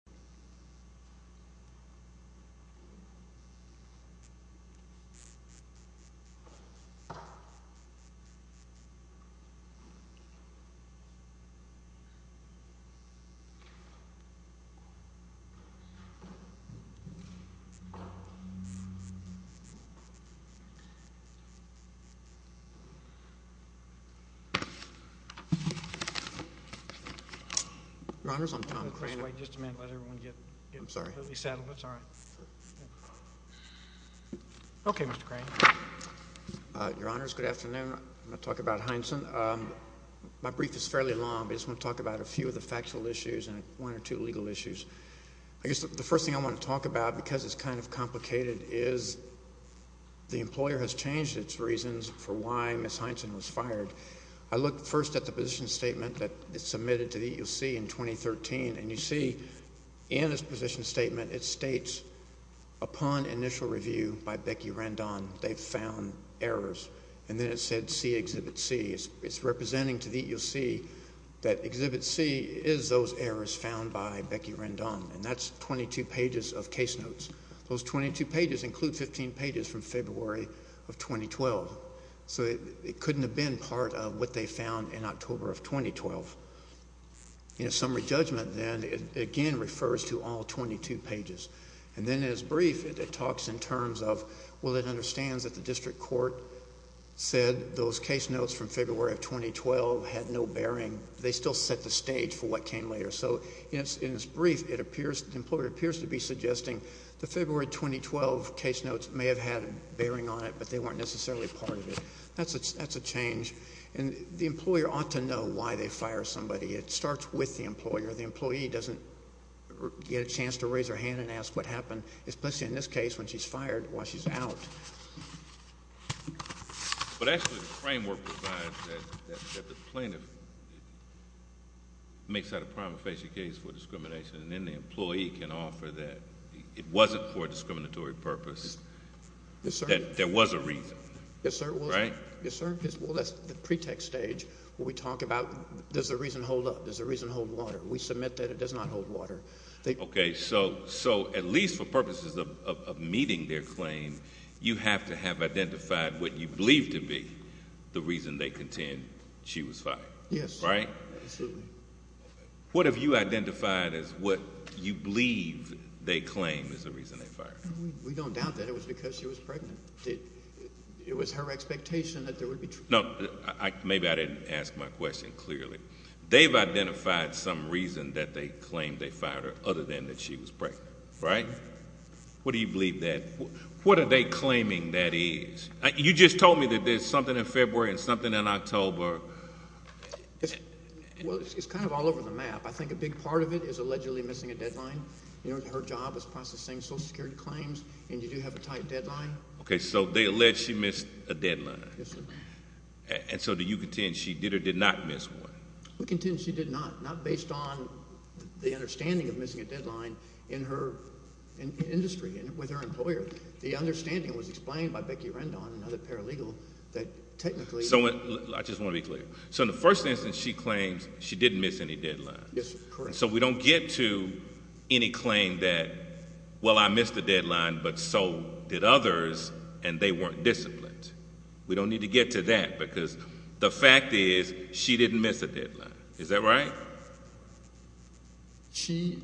R. Conley, C.C. S.C. C.S.C. D.A. C.C. S.B. M.D. S.C. C.C. D.A. C.C. M.D. S.C. C.C. E.D. S.A. C.R. Summer of 2015 In its position statement, it states, upon initial review by Becky Rendon, they found errors. And then it said see Exhibit C. It's representing to the EC that Exhibit C is those errors found by Becky Rendon. And that's 22 pages of case notes. Those 22 pages include 15 pages from February of 2012. So it couldn't have been part of what they found in October of 2012. In a summary judgment, then, it again refers to all 22 pages. And then in its brief, it talks in terms of, well, it understands that the district court said those case notes from February of 2012 had no bearing. They still set the stage for what came later. So in its brief, the employer appears to be suggesting the February 2012 case notes may have had a bearing on it, but they weren't necessarily part of it. That's a change. And the employer ought to know why they fire somebody. It starts with the employer. The employee doesn't get a chance to raise her hand and ask what happened, especially in this case, when she's fired, while she's out. But actually, the framework provides that the plaintiff makes that a prime offensive case for discrimination, and then the employee can offer that it wasn't for a discriminatory purpose. Yes, sir. That there was a reason. Yes, sir. Right? Yes, sir. Well, that's the pretext stage where we talk about, does the reason hold up? Does the reason hold water? We submit that it does not hold water. Okay. So at least for purposes of meeting their claim, you have to have identified what you believe to be the reason they contend she was fired. Yes. Right? Absolutely. What have you identified as what you believe they claim is the reason they fired her? We don't doubt that. It was because she was pregnant. It was her expectation that there would be... No. Maybe I didn't ask my question clearly. They've identified some reason that they claim they fired her, other than that she was pregnant. Right? What do you believe that... What are they claiming that is? You just told me that there's something in February and something in October. Well, it's kind of all over the map. I think a big part of it is allegedly missing a deadline. You know, her job is processing Social Security claims, and you do have a tight deadline. Okay. So they allege she missed a deadline. Yes, sir. And so do you contend she did or did not miss one? We contend she did not, not based on the understanding of missing a deadline in her industry with her employer. The understanding was explained by Becky Rendon, another paralegal, that technically... I just want to be clear. So in the first instance, she claims she didn't miss any deadlines. Yes, sir. Correct. So we don't get to any claim that, well, I missed a deadline, but so did others, and they weren't disciplined. We don't need to get to that, because the fact is she didn't miss a deadline. Is that right? She...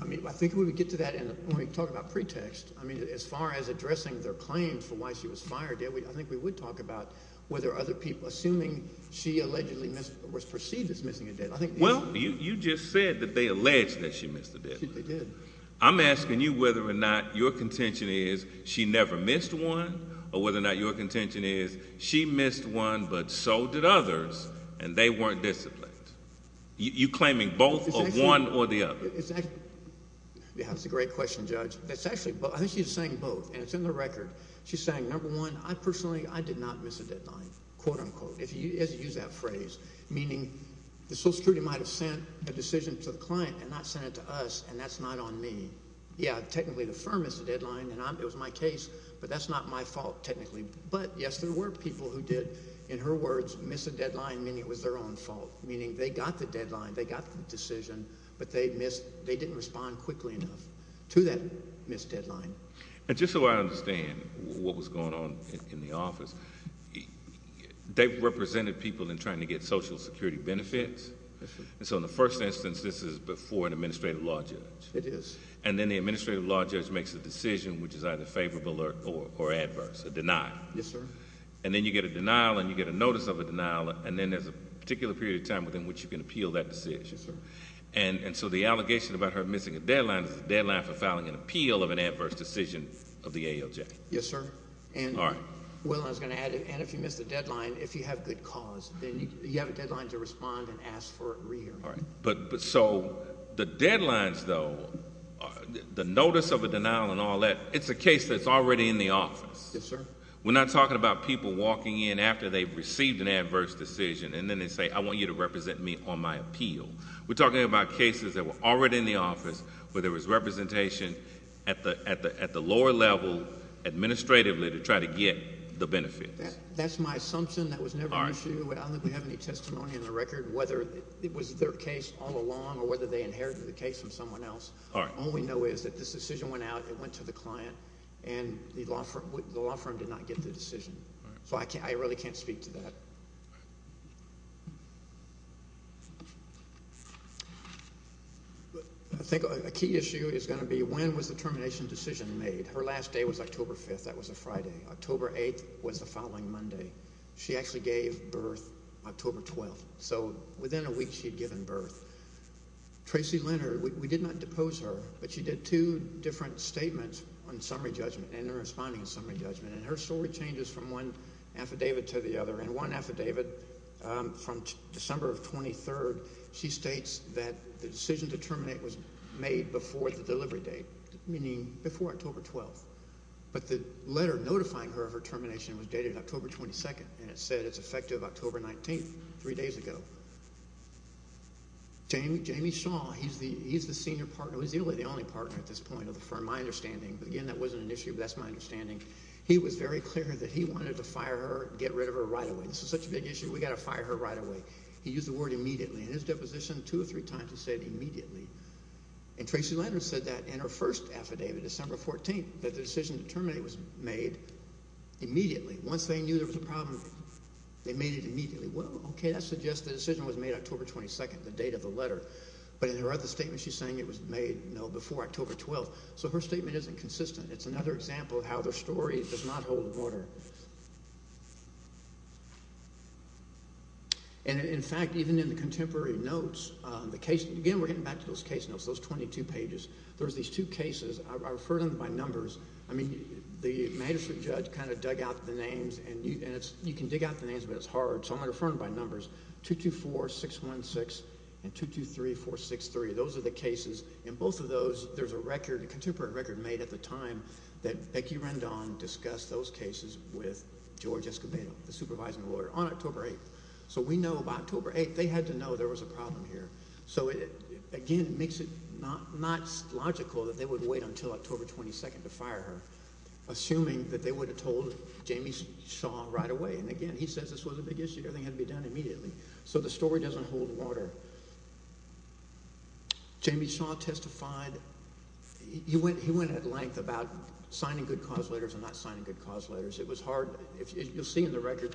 I mean, I think we would get to that when we talk about pretext. I mean, as far as addressing their claim for why she was fired, I think we would talk about whether other people... assuming she allegedly was perceived as missing a deadline, I think... Well, you just said that they alleged that she missed a deadline. They did. I'm asking you whether or not your contention is she never missed one, or whether or not your contention is she missed one, but so did others, and they weren't disciplined. You're claiming both are one or the other. Exactly. That's a great question, Judge. That's actually... I think she's saying both, and it's in the record. She's saying, number one, I personally, I did not miss a deadline, quote, unquote. If you use that phrase, meaning the Social Security might have sent a decision to the client and not sent it to us, and that's not on me. Yeah, technically, the firm missed a deadline, and it was my case, but that's not my fault, technically. But, yes, there were people who did, in her words, miss a deadline, meaning it was their own fault, meaning they got the deadline, they got the decision, but they missed... they didn't respond quickly enough to that missed deadline. And just so I understand what was going on in the office, they represented people in trying to get Social Security benefits, and so in the first instance, this is before an administrative law judge. It is. And then the administrative law judge makes a decision which is either favorable or adverse, a denial. Yes, sir. And then you get a denial, and you get a notice of a denial, and then there's a particular period of time within which you can appeal that decision. Yes, sir. And so the allegation about her missing a deadline is a deadline for filing an appeal of an adverse decision of the ALJ. Yes, sir. All right. And, Will, I was going to add, if you missed a deadline, if you have good cause, then you have a deadline to respond and ask for a re-hearing. All right. So the deadlines, though, the notice of a denial and all that, it's a case that's already in the office. Yes, sir. We're not talking about people walking in after they've received an adverse decision, and then they say, I want you to represent me on my appeal. We're talking about cases that were already in the office where there was representation at the lower level, administratively, to try to get the benefits. That's my assumption. That was never an issue. All right. I don't think we have any testimony in the record whether it was their case all along or whether they inherited the case from someone else. All right. All we know is that this decision went out, it went to the client, and the law firm did not get the decision. All right. So I really can't speak to that. I think a key issue is going to be, when was the termination decision made? Her last day was October 5th. That was a Friday. October 8th was the following Monday. She actually gave birth October 12th. So within a week, she had given birth. Tracy Leonard, we did not depose her, but she did two different statements on summary judgment, and they're responding to summary judgment. And her story changes from one affidavit to the other. And one affidavit from December of 23rd, she states that the decision to terminate was made before the delivery date, meaning before October 12th. But the letter notifying her of her termination was dated October 22nd, and it said it's effective October 19th, three days ago. Jamie Shaw, he's the senior partner. He's really the only partner at this point of the firm, my understanding. Again, that wasn't an issue, but that's my understanding. He was very clear that he wanted to fire her, get rid of her right away. This is such a big issue, we've got to fire her right away. He used the word immediately. In his deposition, two or three times he said immediately. And Tracy Leonard said that in her first affidavit, December 14th, that the decision to terminate was made immediately. Once they knew there was a problem, they made it immediately. Well, okay, that suggests the decision was made October 22nd, the date of the letter. But in her other statement, she's saying it was made, no, before October 12th. So her statement isn't consistent. It's another example of how their story does not hold water. And, in fact, even in the contemporary notes, the case, again, we're getting back to those case notes, those 22 pages. There's these two cases. I refer to them by numbers. I mean, the magistrate judge kind of dug out the names, and you can dig out the names, but it's hard. So I'm going to refer to them by numbers, 224-616 and 223-463. Those are the cases. In both of those, there's a record, a contemporary record made at the time that Becky Rendon discussed those cases with George Escobedo, the supervising lawyer, on October 8th. So we know about October 8th. They had to know there was a problem here. So, again, it makes it not logical that they would wait until October 22nd to fire her, assuming that they would have told Jamie Shaw right away. And, again, he says this was a big issue. Everything had to be done immediately. So the story doesn't hold water. Jamie Shaw testified. He went at length about signing good cause letters and not signing good cause letters. It was hard. You'll see in the record,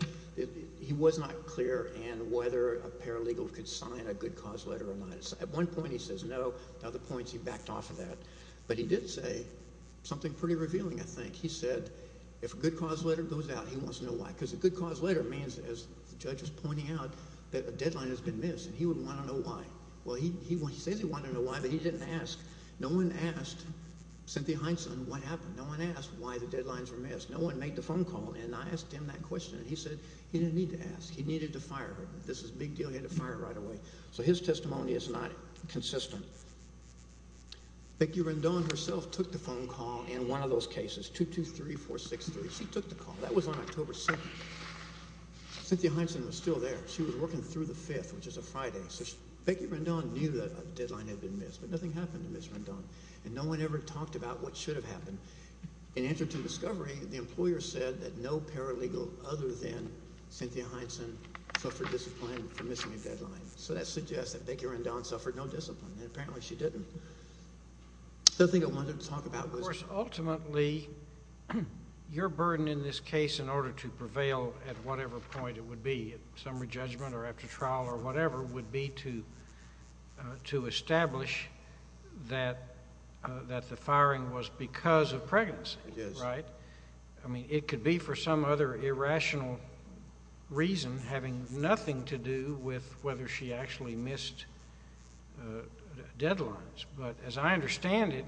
he was not clear on whether a paralegal could sign a good cause letter or not. At one point, he says no. At other points, he backed off of that. But he did say something pretty revealing, I think. He said if a good cause letter goes out, he wants to know why. Because a good cause letter means, as the judge was pointing out, that a deadline has been missed. He would want to know why. Well, he says he wanted to know why, but he didn't ask. No one asked Cynthia Hineson what happened. No one asked why the deadlines were missed. No one made the phone call. And I asked him that question, and he said he didn't need to ask. He needed to fire her. This is a big deal. He had to fire her right away. So his testimony is not consistent. Becky Rendon herself took the phone call in one of those cases, 223463. She took the call. That was on October 7th. Cynthia Hineson was still there. She was working through the 5th, which is a Friday. So Becky Rendon knew that a deadline had been missed, but nothing happened to Ms. Rendon. And no one ever talked about what should have happened. In answer to discovery, the employer said that no paralegal other than Cynthia Hineson suffered discipline for missing a deadline. So that suggests that Becky Rendon suffered no discipline, and apparently she didn't. The other thing I wanted to talk about was – your burden in this case in order to prevail at whatever point it would be, at summary judgment or after trial or whatever, would be to establish that the firing was because of pregnancy, right? Yes. I mean, it could be for some other irrational reason having nothing to do with whether she actually missed deadlines. But as I understand it,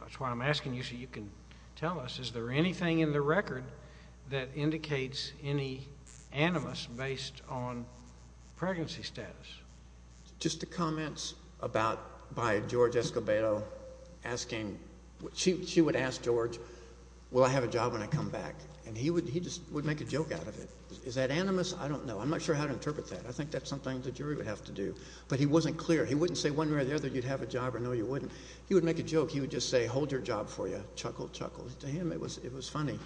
that's why I'm asking you so you can tell us, is there anything in the record that indicates any animus based on pregnancy status? Just the comments about – by George Escobedo asking – she would ask George, will I have a job when I come back? And he would make a joke out of it. Is that animus? I don't know. I'm not sure how to interpret that. I think that's something the jury would have to do. But he wasn't clear. He wouldn't say one way or the other you'd have a job or no, you wouldn't. He would make a joke. He would just say, hold your job for you. Chuckle, chuckle. To him, it was funny.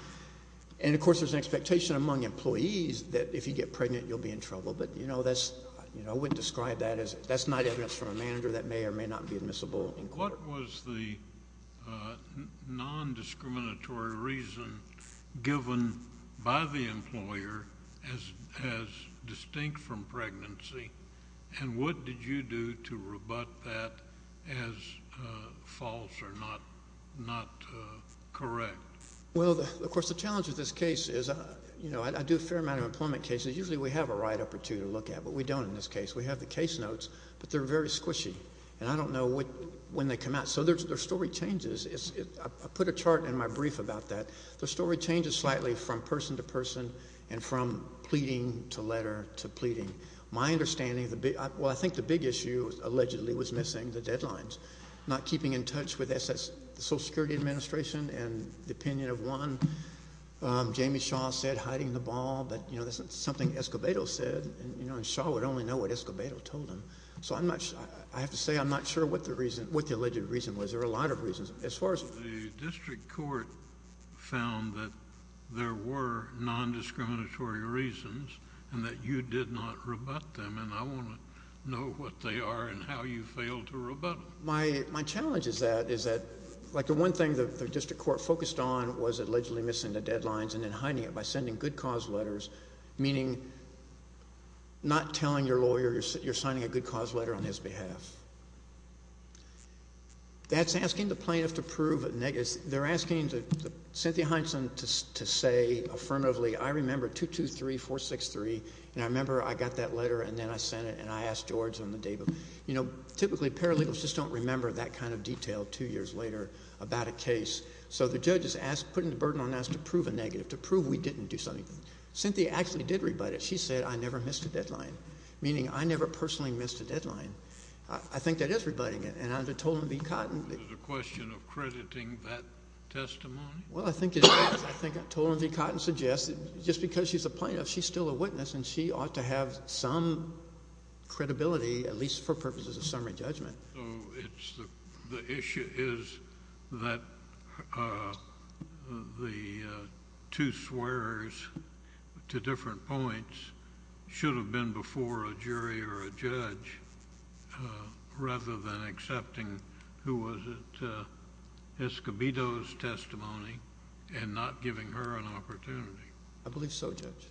And, of course, there's an expectation among employees that if you get pregnant, you'll be in trouble. But, you know, that's – I wouldn't describe that as – that's not evidence from a manager that may or may not be admissible. What was the nondiscriminatory reason given by the employer as distinct from pregnancy? And what did you do to rebut that as false or not correct? Well, of course, the challenge with this case is, you know, I do a fair amount of employment cases. Usually we have a write-up or two to look at. But we don't in this case. We have the case notes. But they're very squishy. And I don't know when they come out. So their story changes. I put a chart in my brief about that. Their story changes slightly from person to person and from pleading to letter to pleading. My understanding – well, I think the big issue allegedly was missing the deadlines, not keeping in touch with the Social Security Administration and the opinion of one. Jamie Shaw said hiding the ball. But, you know, that's something Escobedo said. And, you know, Shaw would only know what Escobedo told him. So I'm not – I have to say I'm not sure what the reason – what the alleged reason was. There were a lot of reasons. As far as – The district court found that there were nondiscriminatory reasons and that you did not rebut them. And I want to know what they are and how you failed to rebut them. My challenge is that – is that, like, the one thing the district court focused on was allegedly missing the deadlines and then hiding it by sending good cause letters, meaning not telling your lawyer you're signing a good cause letter on his behalf. That's asking the plaintiff to prove – they're asking Cynthia Hineson to say affirmatively, I remember 223463 and I remember I got that letter and then I sent it and I asked George on the day – you know, typically paralegals just don't remember that kind of detail two years later about a case. So the judge is asking – putting the burden on us to prove a negative, to prove we didn't do something. Cynthia actually did rebut it. She said, I never missed a deadline, meaning I never personally missed a deadline. I think that is rebutting it. And under Tolan v. Cotton – Is it a question of crediting that testimony? Well, I think it is. I think Tolan v. Cotton suggests that just because she's a plaintiff, she's still a witness, and she ought to have some credibility, at least for purposes of summary judgment. The issue is that the two swears to different points should have been before a jury or a judge rather than accepting who was at Escobedo's testimony and not giving her an opportunity. I believe so, Judge.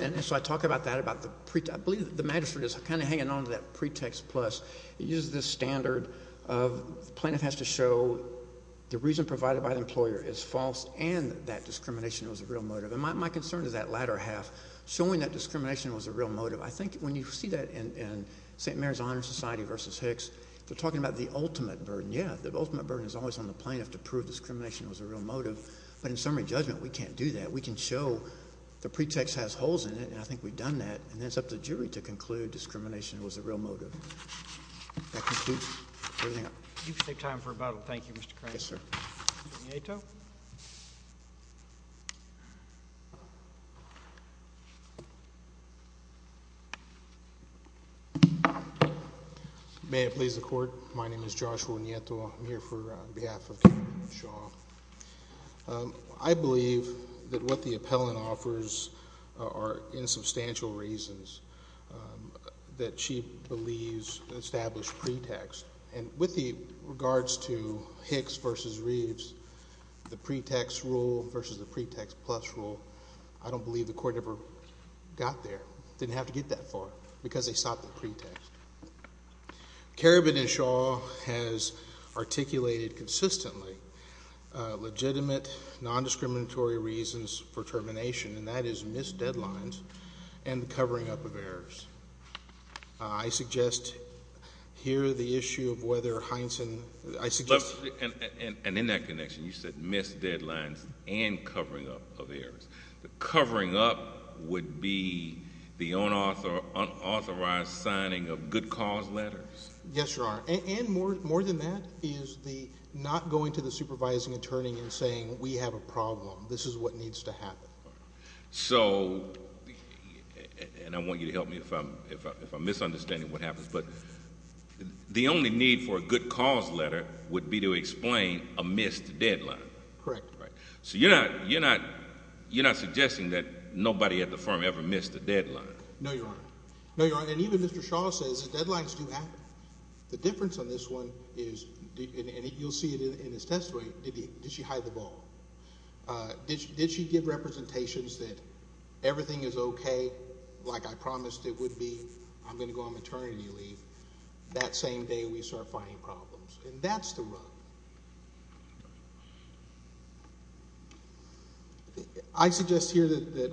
And so I talk about that. I believe the magistrate is kind of hanging on to that pretext plus. It uses this standard of the plaintiff has to show the reason provided by the employer is false and that discrimination was a real motive. And my concern is that latter half, showing that discrimination was a real motive. I think when you see that in St. Mary's Honor Society v. Hicks, they're talking about the ultimate burden. Yeah, the ultimate burden is always on the plaintiff to prove discrimination was a real motive. But in summary judgment, we can't do that. We can show the pretext has holes in it, and I think we've done that, and then it's up to the jury to conclude discrimination was a real motive. That concludes everything. You can take time for rebuttal. Thank you, Mr. Crane. Yes, sir. Ognieto. May it please the Court. My name is Joshua Ognieto. I'm here on behalf of Karabin and Shaw. I believe that what the appellant offers are insubstantial reasons that she believes established pretext. And with regards to Hicks v. Reeves, the pretext rule versus the pretext plus rule, I don't believe the court ever got there, didn't have to get that far, because they sought the pretext. Karabin and Shaw has articulated consistently legitimate nondiscriminatory reasons for termination, and that is missed deadlines and the covering up of errors. I suggest here the issue of whether Heinsohn— And in that connection, you said missed deadlines and covering up of errors. The covering up would be the unauthorized signing of good cause letters. Yes, Your Honor. And more than that is the not going to the supervising attorney and saying, we have a problem. This is what needs to happen. And I want you to help me if I'm misunderstanding what happens, but the only need for a good cause letter would be to explain a missed deadline. Correct. So you're not suggesting that nobody at the firm ever missed a deadline? No, Your Honor. No, Your Honor. And even Mr. Shaw says the deadlines do happen. The difference on this one is—and you'll see it in his testimony—did she hide the ball? Did she give representations that everything is okay like I promised it would be? I'm going to go on maternity leave. That same day we start finding problems. And that's the rub. I suggest here that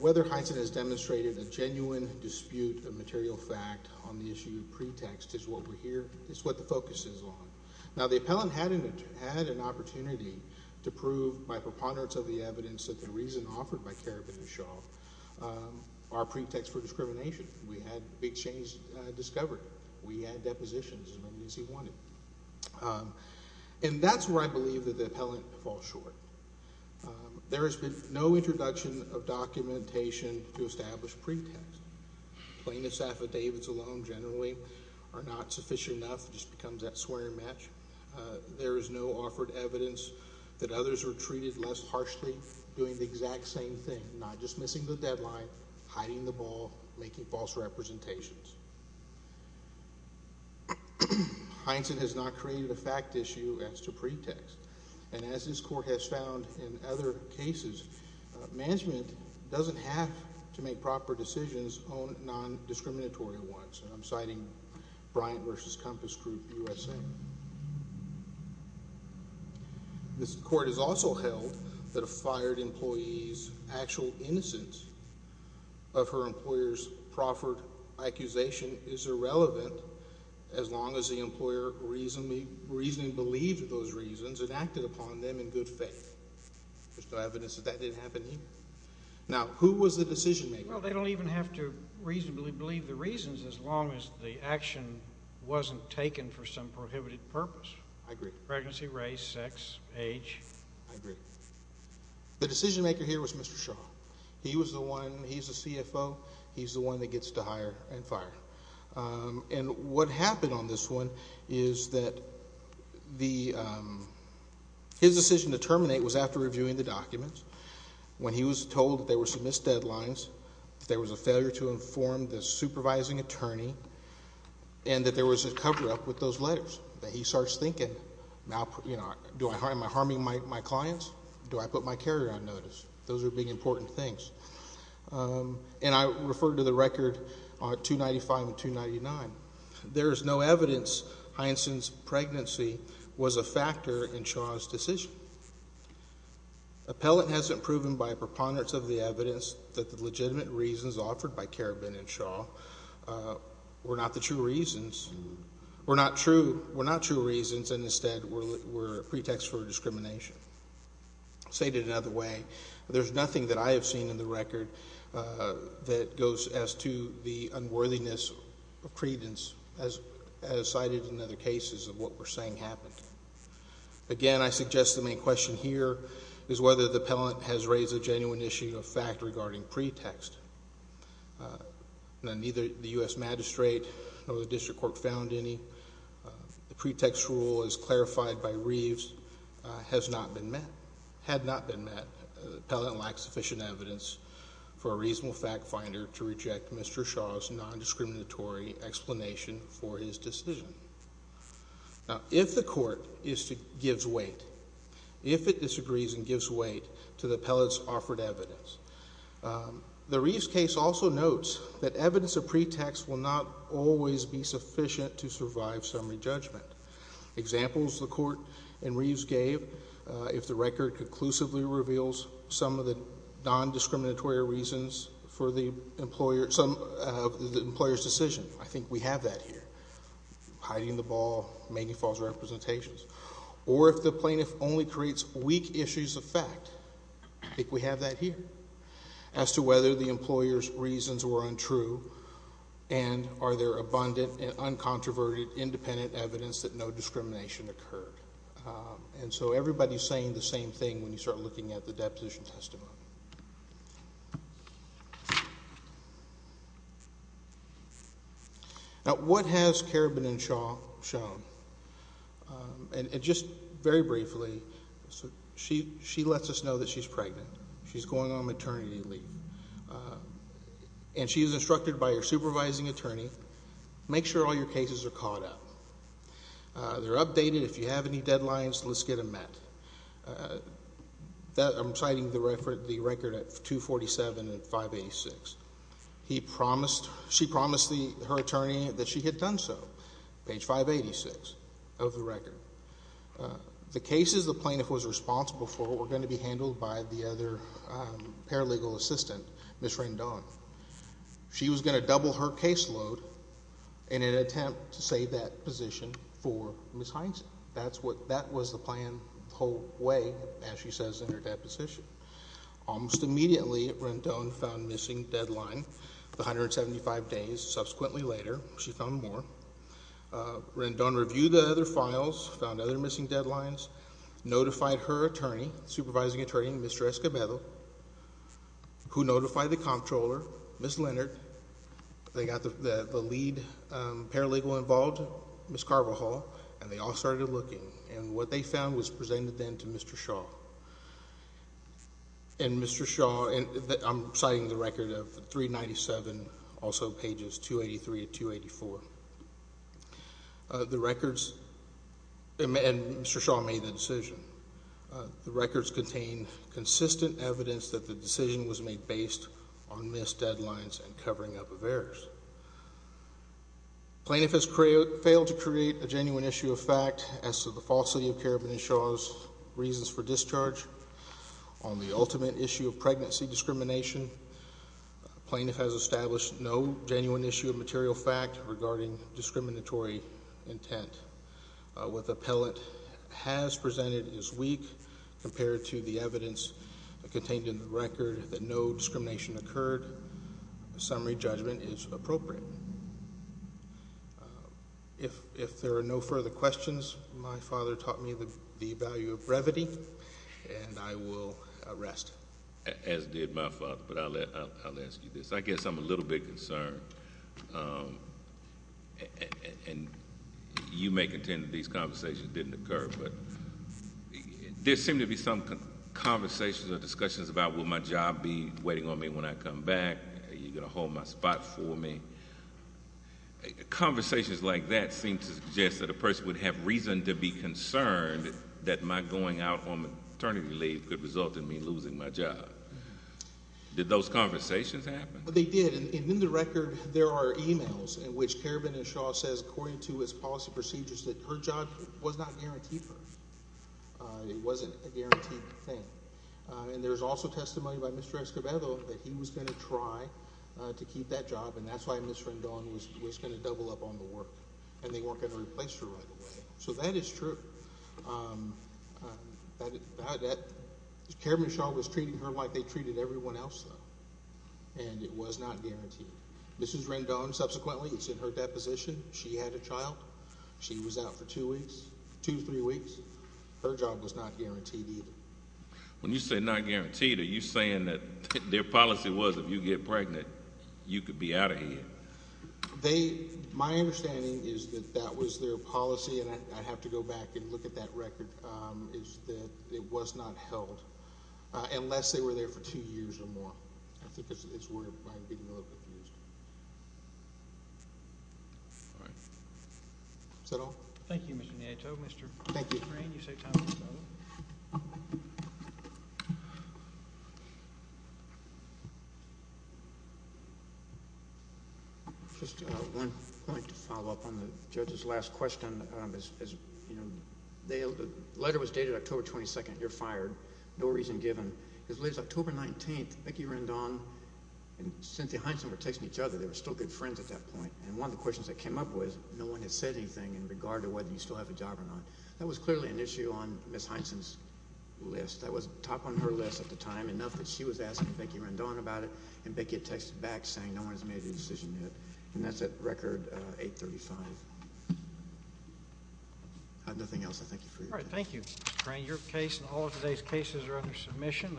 whether Heintzen has demonstrated a genuine dispute of material fact on the issue of pretext is what we're here— is what the focus is on. Now, the appellant had an opportunity to prove by preponderance of the evidence that the reason offered by Kerrivin and Shaw are pretexts for discrimination. We had big chains discovered. We had depositions as many as he wanted. And that's where I believe that the appellant falls short. There has been no introduction of documentation to establish pretexts. Plaintiffs' affidavits alone generally are not sufficient enough. It just becomes that swearing match. There is no offered evidence that others were treated less harshly doing the exact same thing, not dismissing the deadline, hiding the ball, making false representations. Heintzen has not created a fact issue as to pretext. And as this court has found in other cases, management doesn't have to make proper decisions on non-discriminatory ones. And I'm citing Bryant v. Compass Group, USA. This court has also held that a fired employee's actual innocence of her employer's proffered accusation is irrelevant as long as the employer reasonably believed those reasons and acted upon them in good faith. There's no evidence that that didn't happen either. Now, who was the decision-maker? Well, they don't even have to reasonably believe the reasons as long as the action wasn't taken for some prohibited purpose. Pregnancy, race, sex, age. I agree. The decision-maker here was Mr. Shaw. He was the one. He's the CFO. He's the one that gets to hire and fire. And what happened on this one is that his decision to terminate was after reviewing the documents. When he was told that there were some missed deadlines, that there was a failure to inform the supervising attorney, and that there was a cover-up with those letters, that he starts thinking, you know, am I harming my clients? Do I put my carrier on notice? Those are big, important things. And I refer to the record 295 and 299. There is no evidence Heinsohn's pregnancy was a factor in Shaw's decision. Appellant hasn't proven by preponderance of the evidence that the legitimate reasons offered by Karabin and Shaw were not the true reasons, were not true reasons, and instead were a pretext for discrimination. Stated another way, there's nothing that I have seen in the record that goes as to the unworthiness of credence, as cited in other cases of what we're saying happened. Again, I suggest the main question here is whether the appellant has raised a genuine issue of fact regarding pretext. Now, neither the U.S. magistrate nor the district court found any. The pretext rule, as clarified by Reeves, has not been met, had not been met. Appellant lacks sufficient evidence for a reasonable fact finder to reject Mr. Shaw's nondiscriminatory explanation for his decision. Now, if the court gives weight, if it disagrees and gives weight to the appellant's offered evidence, the Reeves case also notes that evidence of pretext will not always be sufficient to survive summary judgment. Examples the court in Reeves gave, if the record conclusively reveals some of the nondiscriminatory reasons for the employer's decision, I think we have that here. Hiding the ball, making false representations. Or if the plaintiff only creates weak issues of fact, I think we have that here, as to whether the employer's reasons were untrue and are there abundant, uncontroverted, independent evidence that no discrimination occurred. And so everybody's saying the same thing when you start looking at the deposition testimony. Now, what has Kerabin and Shaw shown? And just very briefly, she lets us know that she's pregnant. She's going on maternity leave. And she is instructed by her supervising attorney, make sure all your cases are caught up. They're updated. If you have any deadlines, let's get them met. I'm citing the record at 247 and 586. She promised her attorney that she had done so, page 586 of the record. The cases the plaintiff was responsible for were going to be handled by the other paralegal assistant, Ms. Rendon. She was going to double her caseload in an attempt to save that position for Ms. Hindson. That was the plan the whole way, as she says in her deposition. Almost immediately, Rendon found missing deadline, 175 days. Subsequently later, she found more. Rendon reviewed the other files, found other missing deadlines, notified her attorney, supervising attorney, Mr. Escobedo, who notified the comptroller, Ms. Leonard. They got the lead paralegal involved, Ms. Carvajal, and they all started looking. And what they found was presented then to Mr. Shaw. And Mr. Shaw, I'm citing the record of 397, also pages 283 and 284. The records, and Mr. Shaw made the decision. The records contain consistent evidence that the decision was made based on missed deadlines and covering up of errors. Plaintiff has failed to create a genuine issue of fact as to the falsity of Karen and Shaw's reasons for discharge. On the ultimate issue of pregnancy discrimination, plaintiff has established no genuine issue of material fact regarding discriminatory intent. What the appellate has presented is weak compared to the evidence contained in the record that no discrimination occurred. A summary judgment is appropriate. If there are no further questions, my father taught me the value of brevity, and I will rest. As did my father, but I'll ask you this. I guess I'm a little bit concerned. And you may contend that these conversations didn't occur, but there seem to be some conversations or discussions about, will my job be waiting on me when I come back? Are you going to hold my spot for me? Conversations like that seem to suggest that a person would have reason to be concerned that my going out on maternity leave could result in me losing my job. Did those conversations happen? They did, and in the record there are e-mails in which Karen and Shaw says, according to his policy procedures, that her job was not guaranteed for her. It wasn't a guaranteed thing. And there's also testimony by Mr. Escobedo that he was going to try to keep that job, and that's why Ms. Rendon was going to double up on the work. And they weren't going to replace her right away. So that is true. Karen and Shaw was treating her like they treated everyone else, though. And it was not guaranteed. Ms. Rendon, subsequently, it's in her deposition. She had a child. She was out for two weeks, two, three weeks. Her job was not guaranteed either. When you say not guaranteed, are you saying that their policy was if you get pregnant, you could be out of here? My understanding is that that was their policy, and I'd have to go back and look at that record, is that it was not held unless they were there for two years or more. I think that's where it might be more confused. All right. Is that all? Thank you, Mr. Nieto. Thank you. Mr. Crane, you saved time for another. Just one point to follow up on the judge's last question. The letter was dated October 22nd. You're fired. No reason given. As late as October 19th, Mickey Rendon and Cynthia Hines were texting each other. They were still good friends at that point. And one of the questions they came up with, no one had said anything in regard to whether you still have a job or not. That was clearly an issue on Ms. Hines' list. That was top on her list at the time, enough that she was asking Mickey Rendon about it, and Mickey had texted back saying no one has made a decision yet. And that's at record 835. I have nothing else. I thank you for your time. All right. Thank you, Mr. Crane. Your case and all of today's cases are under submission.